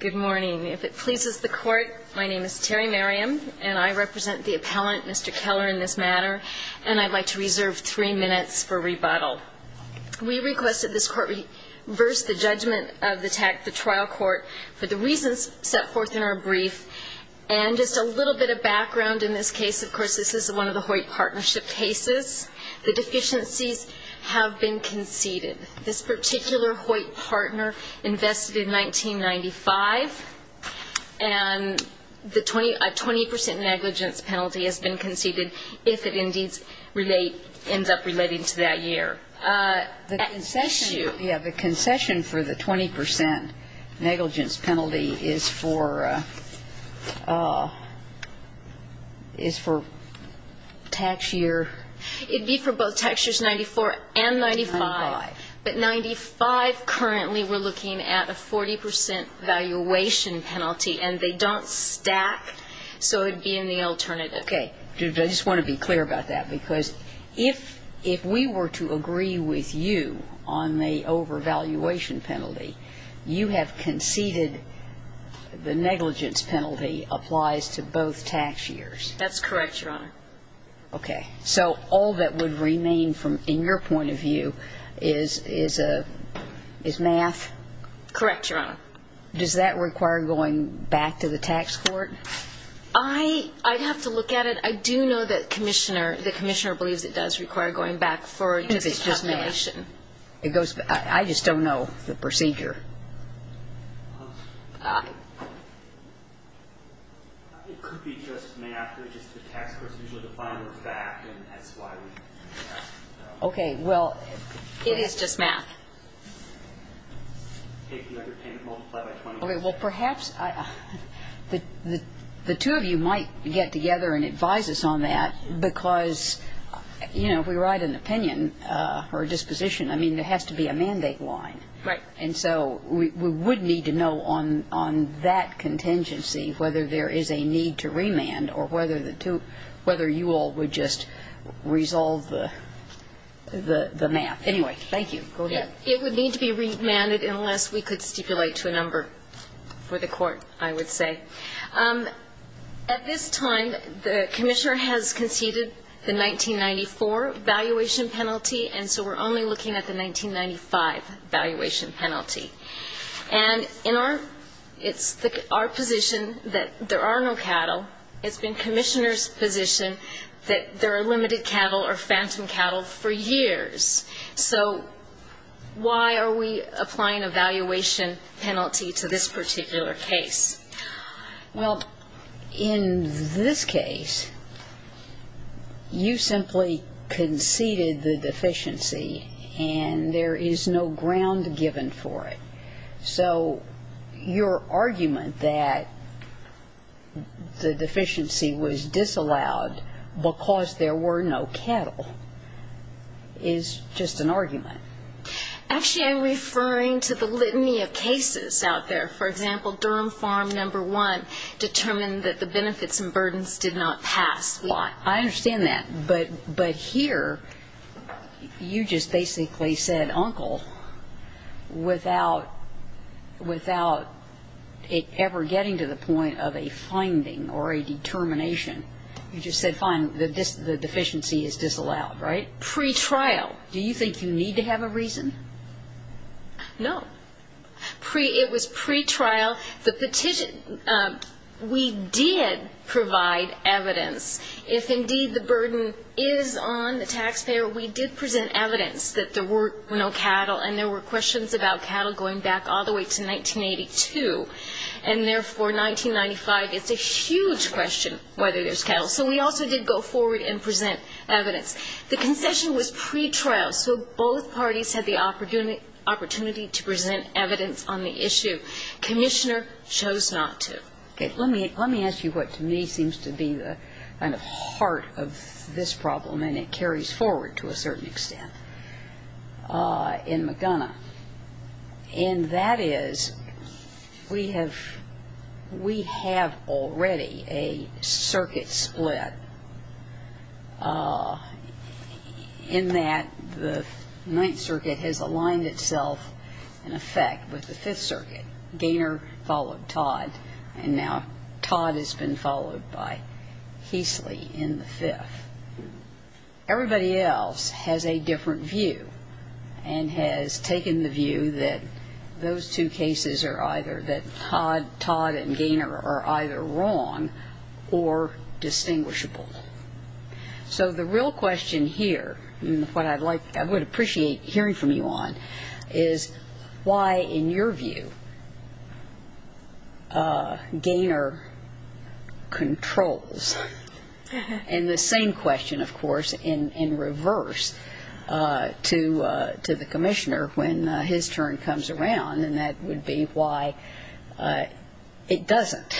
Good morning. If it pleases the court, my name is Terry Merriam, and I represent the appellant, Mr. Keller, in this matter, and I'd like to reserve three minutes for rebuttal. We requested this court reverse the judgment of the trial court for the reasons set forth in our brief, and just a little bit of background in this case. Of course, this is one of the Hoyt partnership cases. The deficiencies have been conceded. This particular Hoyt partner invested in 1995, and a 20% negligence penalty has been conceded if it indeed ends up relating to that year. The concession for the 20% negligence penalty is for tax year... But 95 currently we're looking at a 40% valuation penalty, and they don't stack, so it would be in the alternative. Okay. I just want to be clear about that, because if we were to agree with you on the overvaluation penalty, you have conceded the negligence penalty applies to both tax years. That's correct, Your Honor. Okay. So all that would remain from, in your point of view, is math? Correct, Your Honor. Does that require going back to the tax court? I'd have to look at it. I do know that the commissioner believes it does require going back for just a calculation. I just don't know the procedure. It could be just math, or just the tax procedure. Okay. Well, it is just math. Okay. Well, perhaps the two of you might get together and advise us on that, because, you know, if we write an opinion or a disposition, I mean, there has to be a mandate line. Right. And so we would need to know on that contingency whether there is a need to remand or whether you all would just resolve the math. Anyway, thank you. Go ahead. It would need to be remanded unless we could stipulate to a number for the court, I would say. At this time, the commissioner has conceded the 1994 valuation penalty, and so we're only looking at the 1995 valuation penalty. And in our — it's our position that there are no cattle. It's been Commissioner's position that there are limited cattle or phantom cattle for years. So why are we applying a valuation penalty to this particular case? Well, in this case, you simply conceded the deficiency, and there is no ground given for it. So your argument that the deficiency was disallowed because there were no cattle is just an argument. Actually, I'm referring to the litany of cases out there. For example, Durham Farm, number one, determined that the benefits and burdens did not pass law. I understand that. But here, you just basically said, Uncle, without — without ever getting to the point of a finding or a determination, you just said, fine, the deficiency is disallowed, right? Pretrial. Do you think you need to have a reason? No. It was pretrial. The petition — we did provide evidence. If, indeed, the burden is on the taxpayer, we did present evidence that there were no cattle, and there were questions about cattle going back all the way to 1982. And therefore, 1995, it's a huge question whether there's cattle. So we also did go forward and present evidence. The concession was pretrial, so both parties had the opportunity to present evidence on the issue. Commissioner chose not to. Okay. Let me ask you what to me seems to be the kind of heart of this problem, and it is that we have already a circuit split in that the Ninth Circuit has aligned itself in effect with the Fifth Circuit. Gaynor followed Todd, and now Todd has been followed by Heasley in the Fifth. Everybody else has a different view and has taken the view that those two cases are either — that Todd and Gaynor are either wrong or distinguishable. So the real question here, and what I would appreciate hearing from you on, is why, in your view, Gaynor controls? And the same question, of course, in reverse to the Commissioner when his turn comes around, and that would be why it doesn't.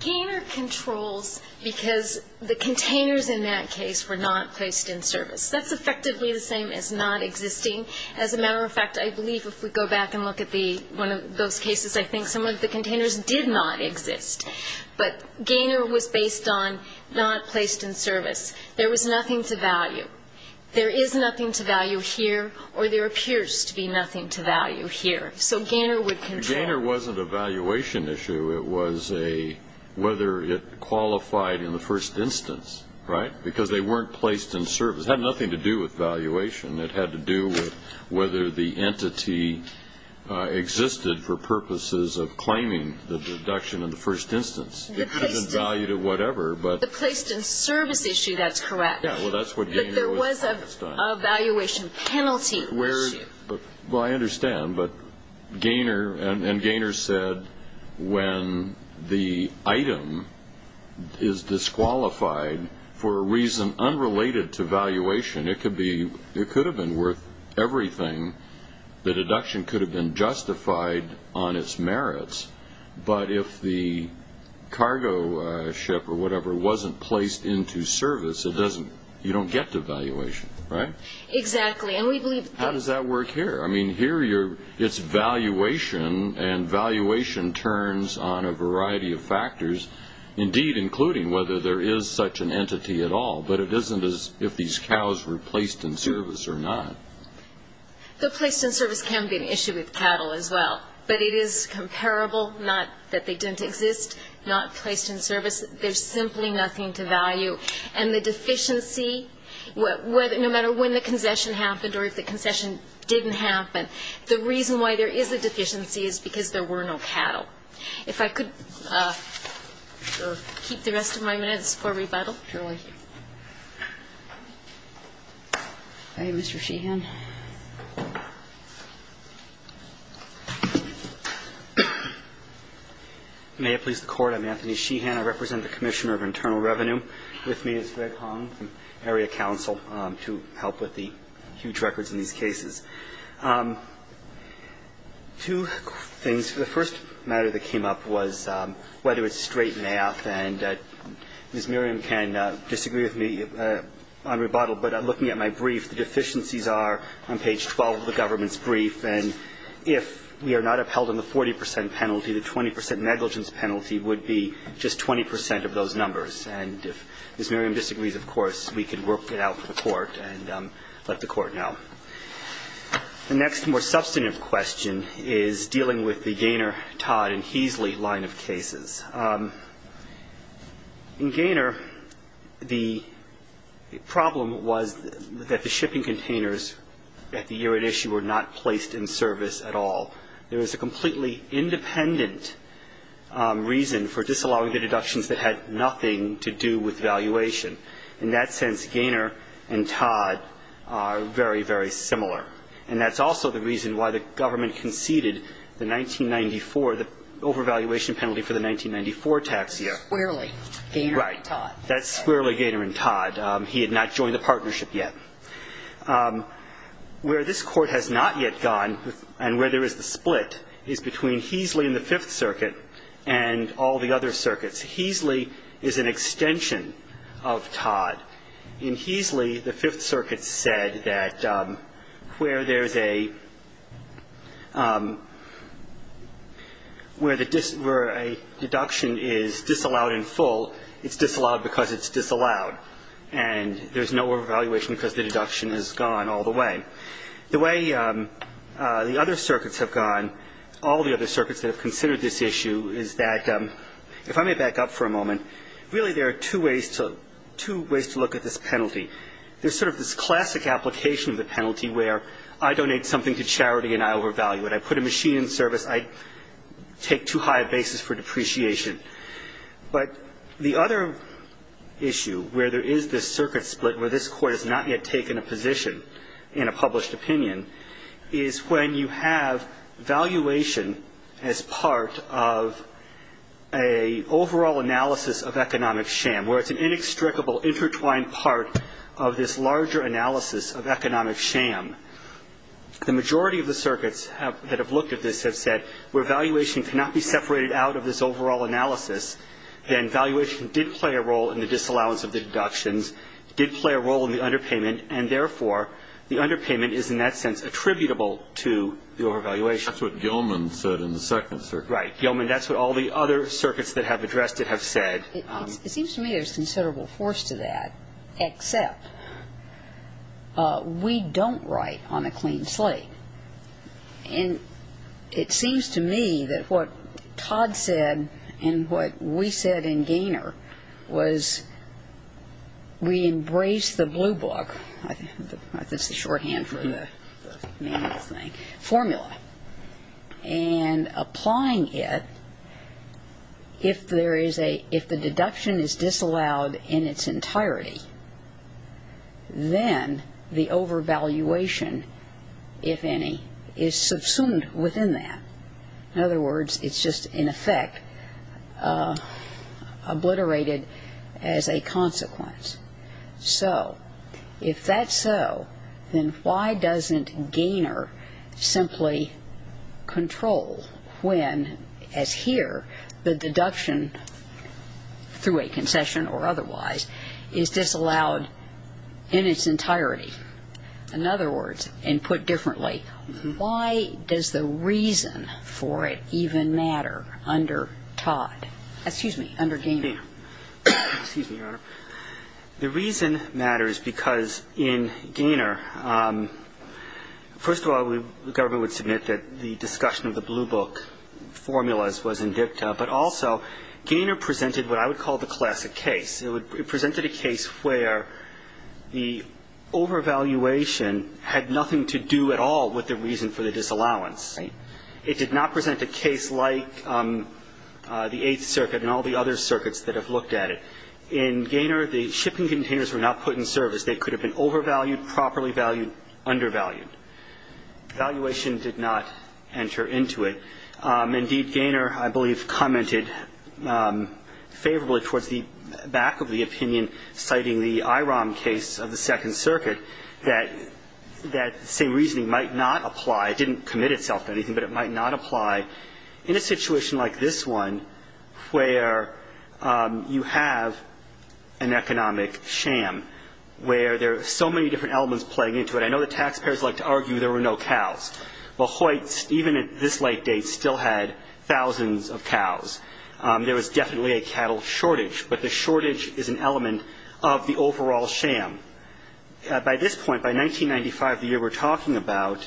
Gaynor controls because the containers in that case were not placed in service. That's effectively the same as not existing. As a matter of fact, I believe if we go back and look at the — one of those cases, I think some of the containers did not exist. But Gaynor was based on not placed in service. There was nothing to value. There is nothing to value here, or there appears to be nothing to value here. So Gaynor would control. Gaynor wasn't a valuation issue. It was a — whether it qualified in the first instance, right? Because they weren't placed in service. It had nothing to do with valuation. It had to do with whether the entity existed for purposes of claiming the deduction in the first instance. It wasn't valued at whatever, but — The placed-in-service issue, that's correct. Yeah, well, that's what Gaynor was — But there was a valuation penalty issue. Where — well, I understand, but Gaynor — and Gaynor said when the item is disqualified, for a reason unrelated to valuation, it could be — it could have been worth everything. The deduction could have been justified on its merits. But if the cargo ship or whatever wasn't placed into service, it doesn't — you don't get the valuation, right? Exactly. And we believe — How does that work here? I mean, here you're — it's valuation, and valuation turns on a variety of factors, indeed including whether there is such an entity at all. But it isn't as if these cows were placed in service or not. The placed-in-service can be an issue with cattle as well. But it is comparable, not that they didn't exist, not placed in service. There's simply nothing to value. And the deficiency — no matter when the concession happened or if the concession didn't happen, the reason why there is a deficiency is because there were no cattle. If I could keep the rest of my minutes for rebuttal. Sure. Thank you. All right, Mr. Sheehan. May it please the Court, I'm Anthony Sheehan. I represent the Commissioner of Internal Revenue. With me is Greg Hong from Area Council to help with the huge records in these cases. Two things. The first matter that came up was whether it's straight math. And Ms. Miriam can disagree with me on rebuttal, but looking at my brief, the deficiencies are on page 12 of the government's brief. And if we are not upheld on the 40 percent penalty, the Ms. Miriam disagrees, of course, we can work it out for the Court and let the Court know. The next more substantive question is dealing with the Gaynor, Todd, and Heasley line of cases. In Gaynor, the problem was that the shipping containers at the year at issue were not placed in service at all. There was a completely independent reason for disallowing the deductions that had nothing to do with valuation. In that sense, Gaynor and Todd are very, very similar. And that's also the reason why the government conceded the 1994 the overvaluation penalty for the 1994 tax year. Squarely Gaynor and Todd. That's squarely Gaynor and Todd. He had not joined the partnership yet. Where this Court has not yet gone and where there is the split is between Heasley and the Fifth Circuit and all the other circuits. Heasley is an extension of Todd. In Heasley, the Fifth Circuit said that where there's a, where a deduction is disallowed in full, it's disallowed because it's disallowed. And there's no overvaluation because the deduction has gone all the way. The way the other circuits have gone, all the other circuits that have considered this issue is that, if I may back up for a moment, really there are two ways to, two ways to look at this penalty. There's sort of this classic application of the penalty where I donate something to charity and I overvalue it. I put a machine in service. I take too high a basis for depreciation. But the other issue where there is this circuit split where this Court has not yet taken a position in a published opinion is when you have valuation as part of a overall analysis of economic sham, where it's an inextricable intertwined part of this larger analysis of economic sham. The majority of the circuits that have looked at this have said where valuation cannot be separated out of this overall analysis, then valuation did play a role in the disallowance of the deductions, did play a role in the underpayment, and therefore the underpayment is in that sense attributable to the overvaluation. That's what Gilman said in the second circuit. Right. Gilman, that's what all the other circuits that have addressed it have said. It seems to me there's considerable force to that, except we don't write on a clean slate. And it seems to me that what Todd said and what we said in Gaynor was we embrace the blue book, I think it's the shorthand for the manual thing, formula, and applying it if there is a, if the deduction is disallowed in its entirety, then the overvaluation, if any, is subsumed within that. In other words, it's just in effect obliterated as a consequence. So if that's so, then why doesn't Gaynor simply control when, as here, the deduction through a concession or otherwise is disallowed in its entirety? In other words, and put differently, why does the reason for it even matter under Todd, excuse me, under Gaynor? Excuse me, Your Honor. The reason matters because in Gaynor, first of all, the government would submit that the discussion of the blue book formulas was in dicta, but also Gaynor presented what I would call the classic case. It presented a case where the overvaluation had nothing to do at all with the reason for the disallowance. It did not present a case like the Eighth Circuit and all the other circuits that have looked at it. In Gaynor, the shipping containers were not put in service. They could have been overvalued, properly valued, undervalued. Valuation did not enter into it. Indeed, Gaynor, I believe, commented favorably towards the back of the opinion citing the IROM case of the Second Circuit that that same reasoning might not apply. It didn't commit itself to anything, but it might not apply in a situation like this one where you have an economic sham, where there are so many different elements playing into it. I know the taxpayers like to argue there were no cows. Well, Hoyts, even at this late date, still had thousands of cows. There was definitely a cattle shortage, but the shortage is an element of the overall sham. By this point, by 1995, the year we're talking about,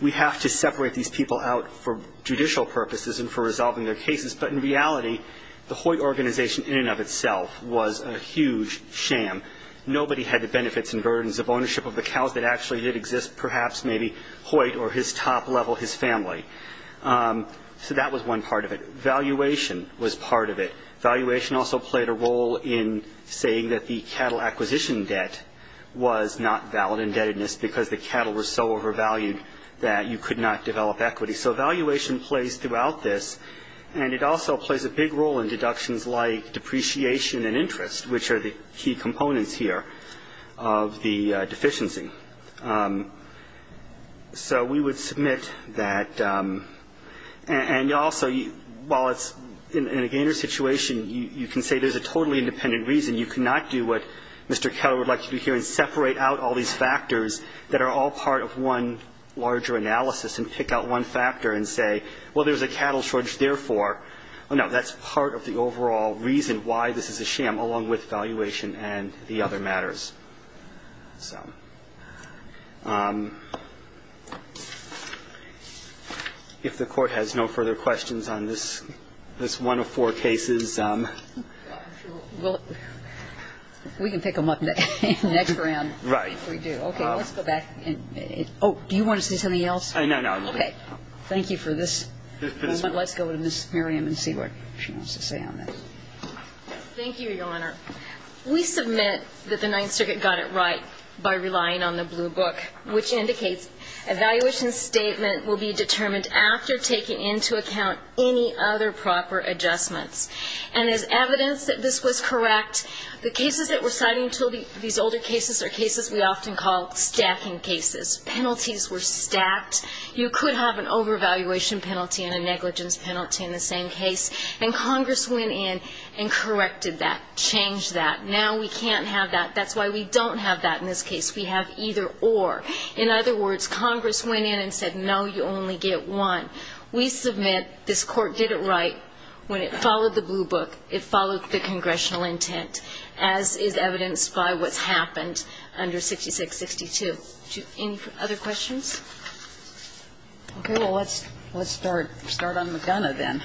we have to separate these people out for judicial purposes and for resolving their cases. But in reality, the Hoyt organization in and of itself was a huge sham. Nobody had the benefits and burdens of ownership of the cows that actually did exist, perhaps maybe Hoyt or his top level, his family. So that was one part of it. Valuation was part of it. Valuation also played a role in saying that the cattle acquisition debt was not valid indebtedness because the cattle were so overvalued that you could not develop equity. So valuation plays throughout this, and it also plays a big role in deductions like depreciation and interest, which are the key components here of the deficiency. So we would submit that. And also, I think it's important to note that also while it's in a gainer situation, you can say there's a totally independent reason. You cannot do what Mr. Keller would like to do here and separate out all these factors that are all part of one larger analysis and pick out one factor and say, well, there's a cattle shortage, therefore. No, that's part of the overall reason why this is a sham, along with valuation and the other matters. So if the Court has no further questions, on this one of four cases, we'll go to Ms. Miriam and see what she wants to say on this. Thank you, Your Honor. We submit that the Ninth Circuit got it right by relying on the other proper adjustments. And there's evidence that this was correct. The cases that we're citing, these older cases, are cases we often call stacking cases. Penalties were stacked. You could have an overvaluation penalty and a negligence penalty in the same case. And Congress went in and corrected that, changed that. Now we can't have that. That's why we don't have that in this case. We have either or. In other words, Congress went in and said, no, you only get one. We submit this Court did it right when it followed the blue book, it followed the congressional intent, as is evidenced by what's happened under 6662. Any other questions? Okay. Well, let's start on McDonough then.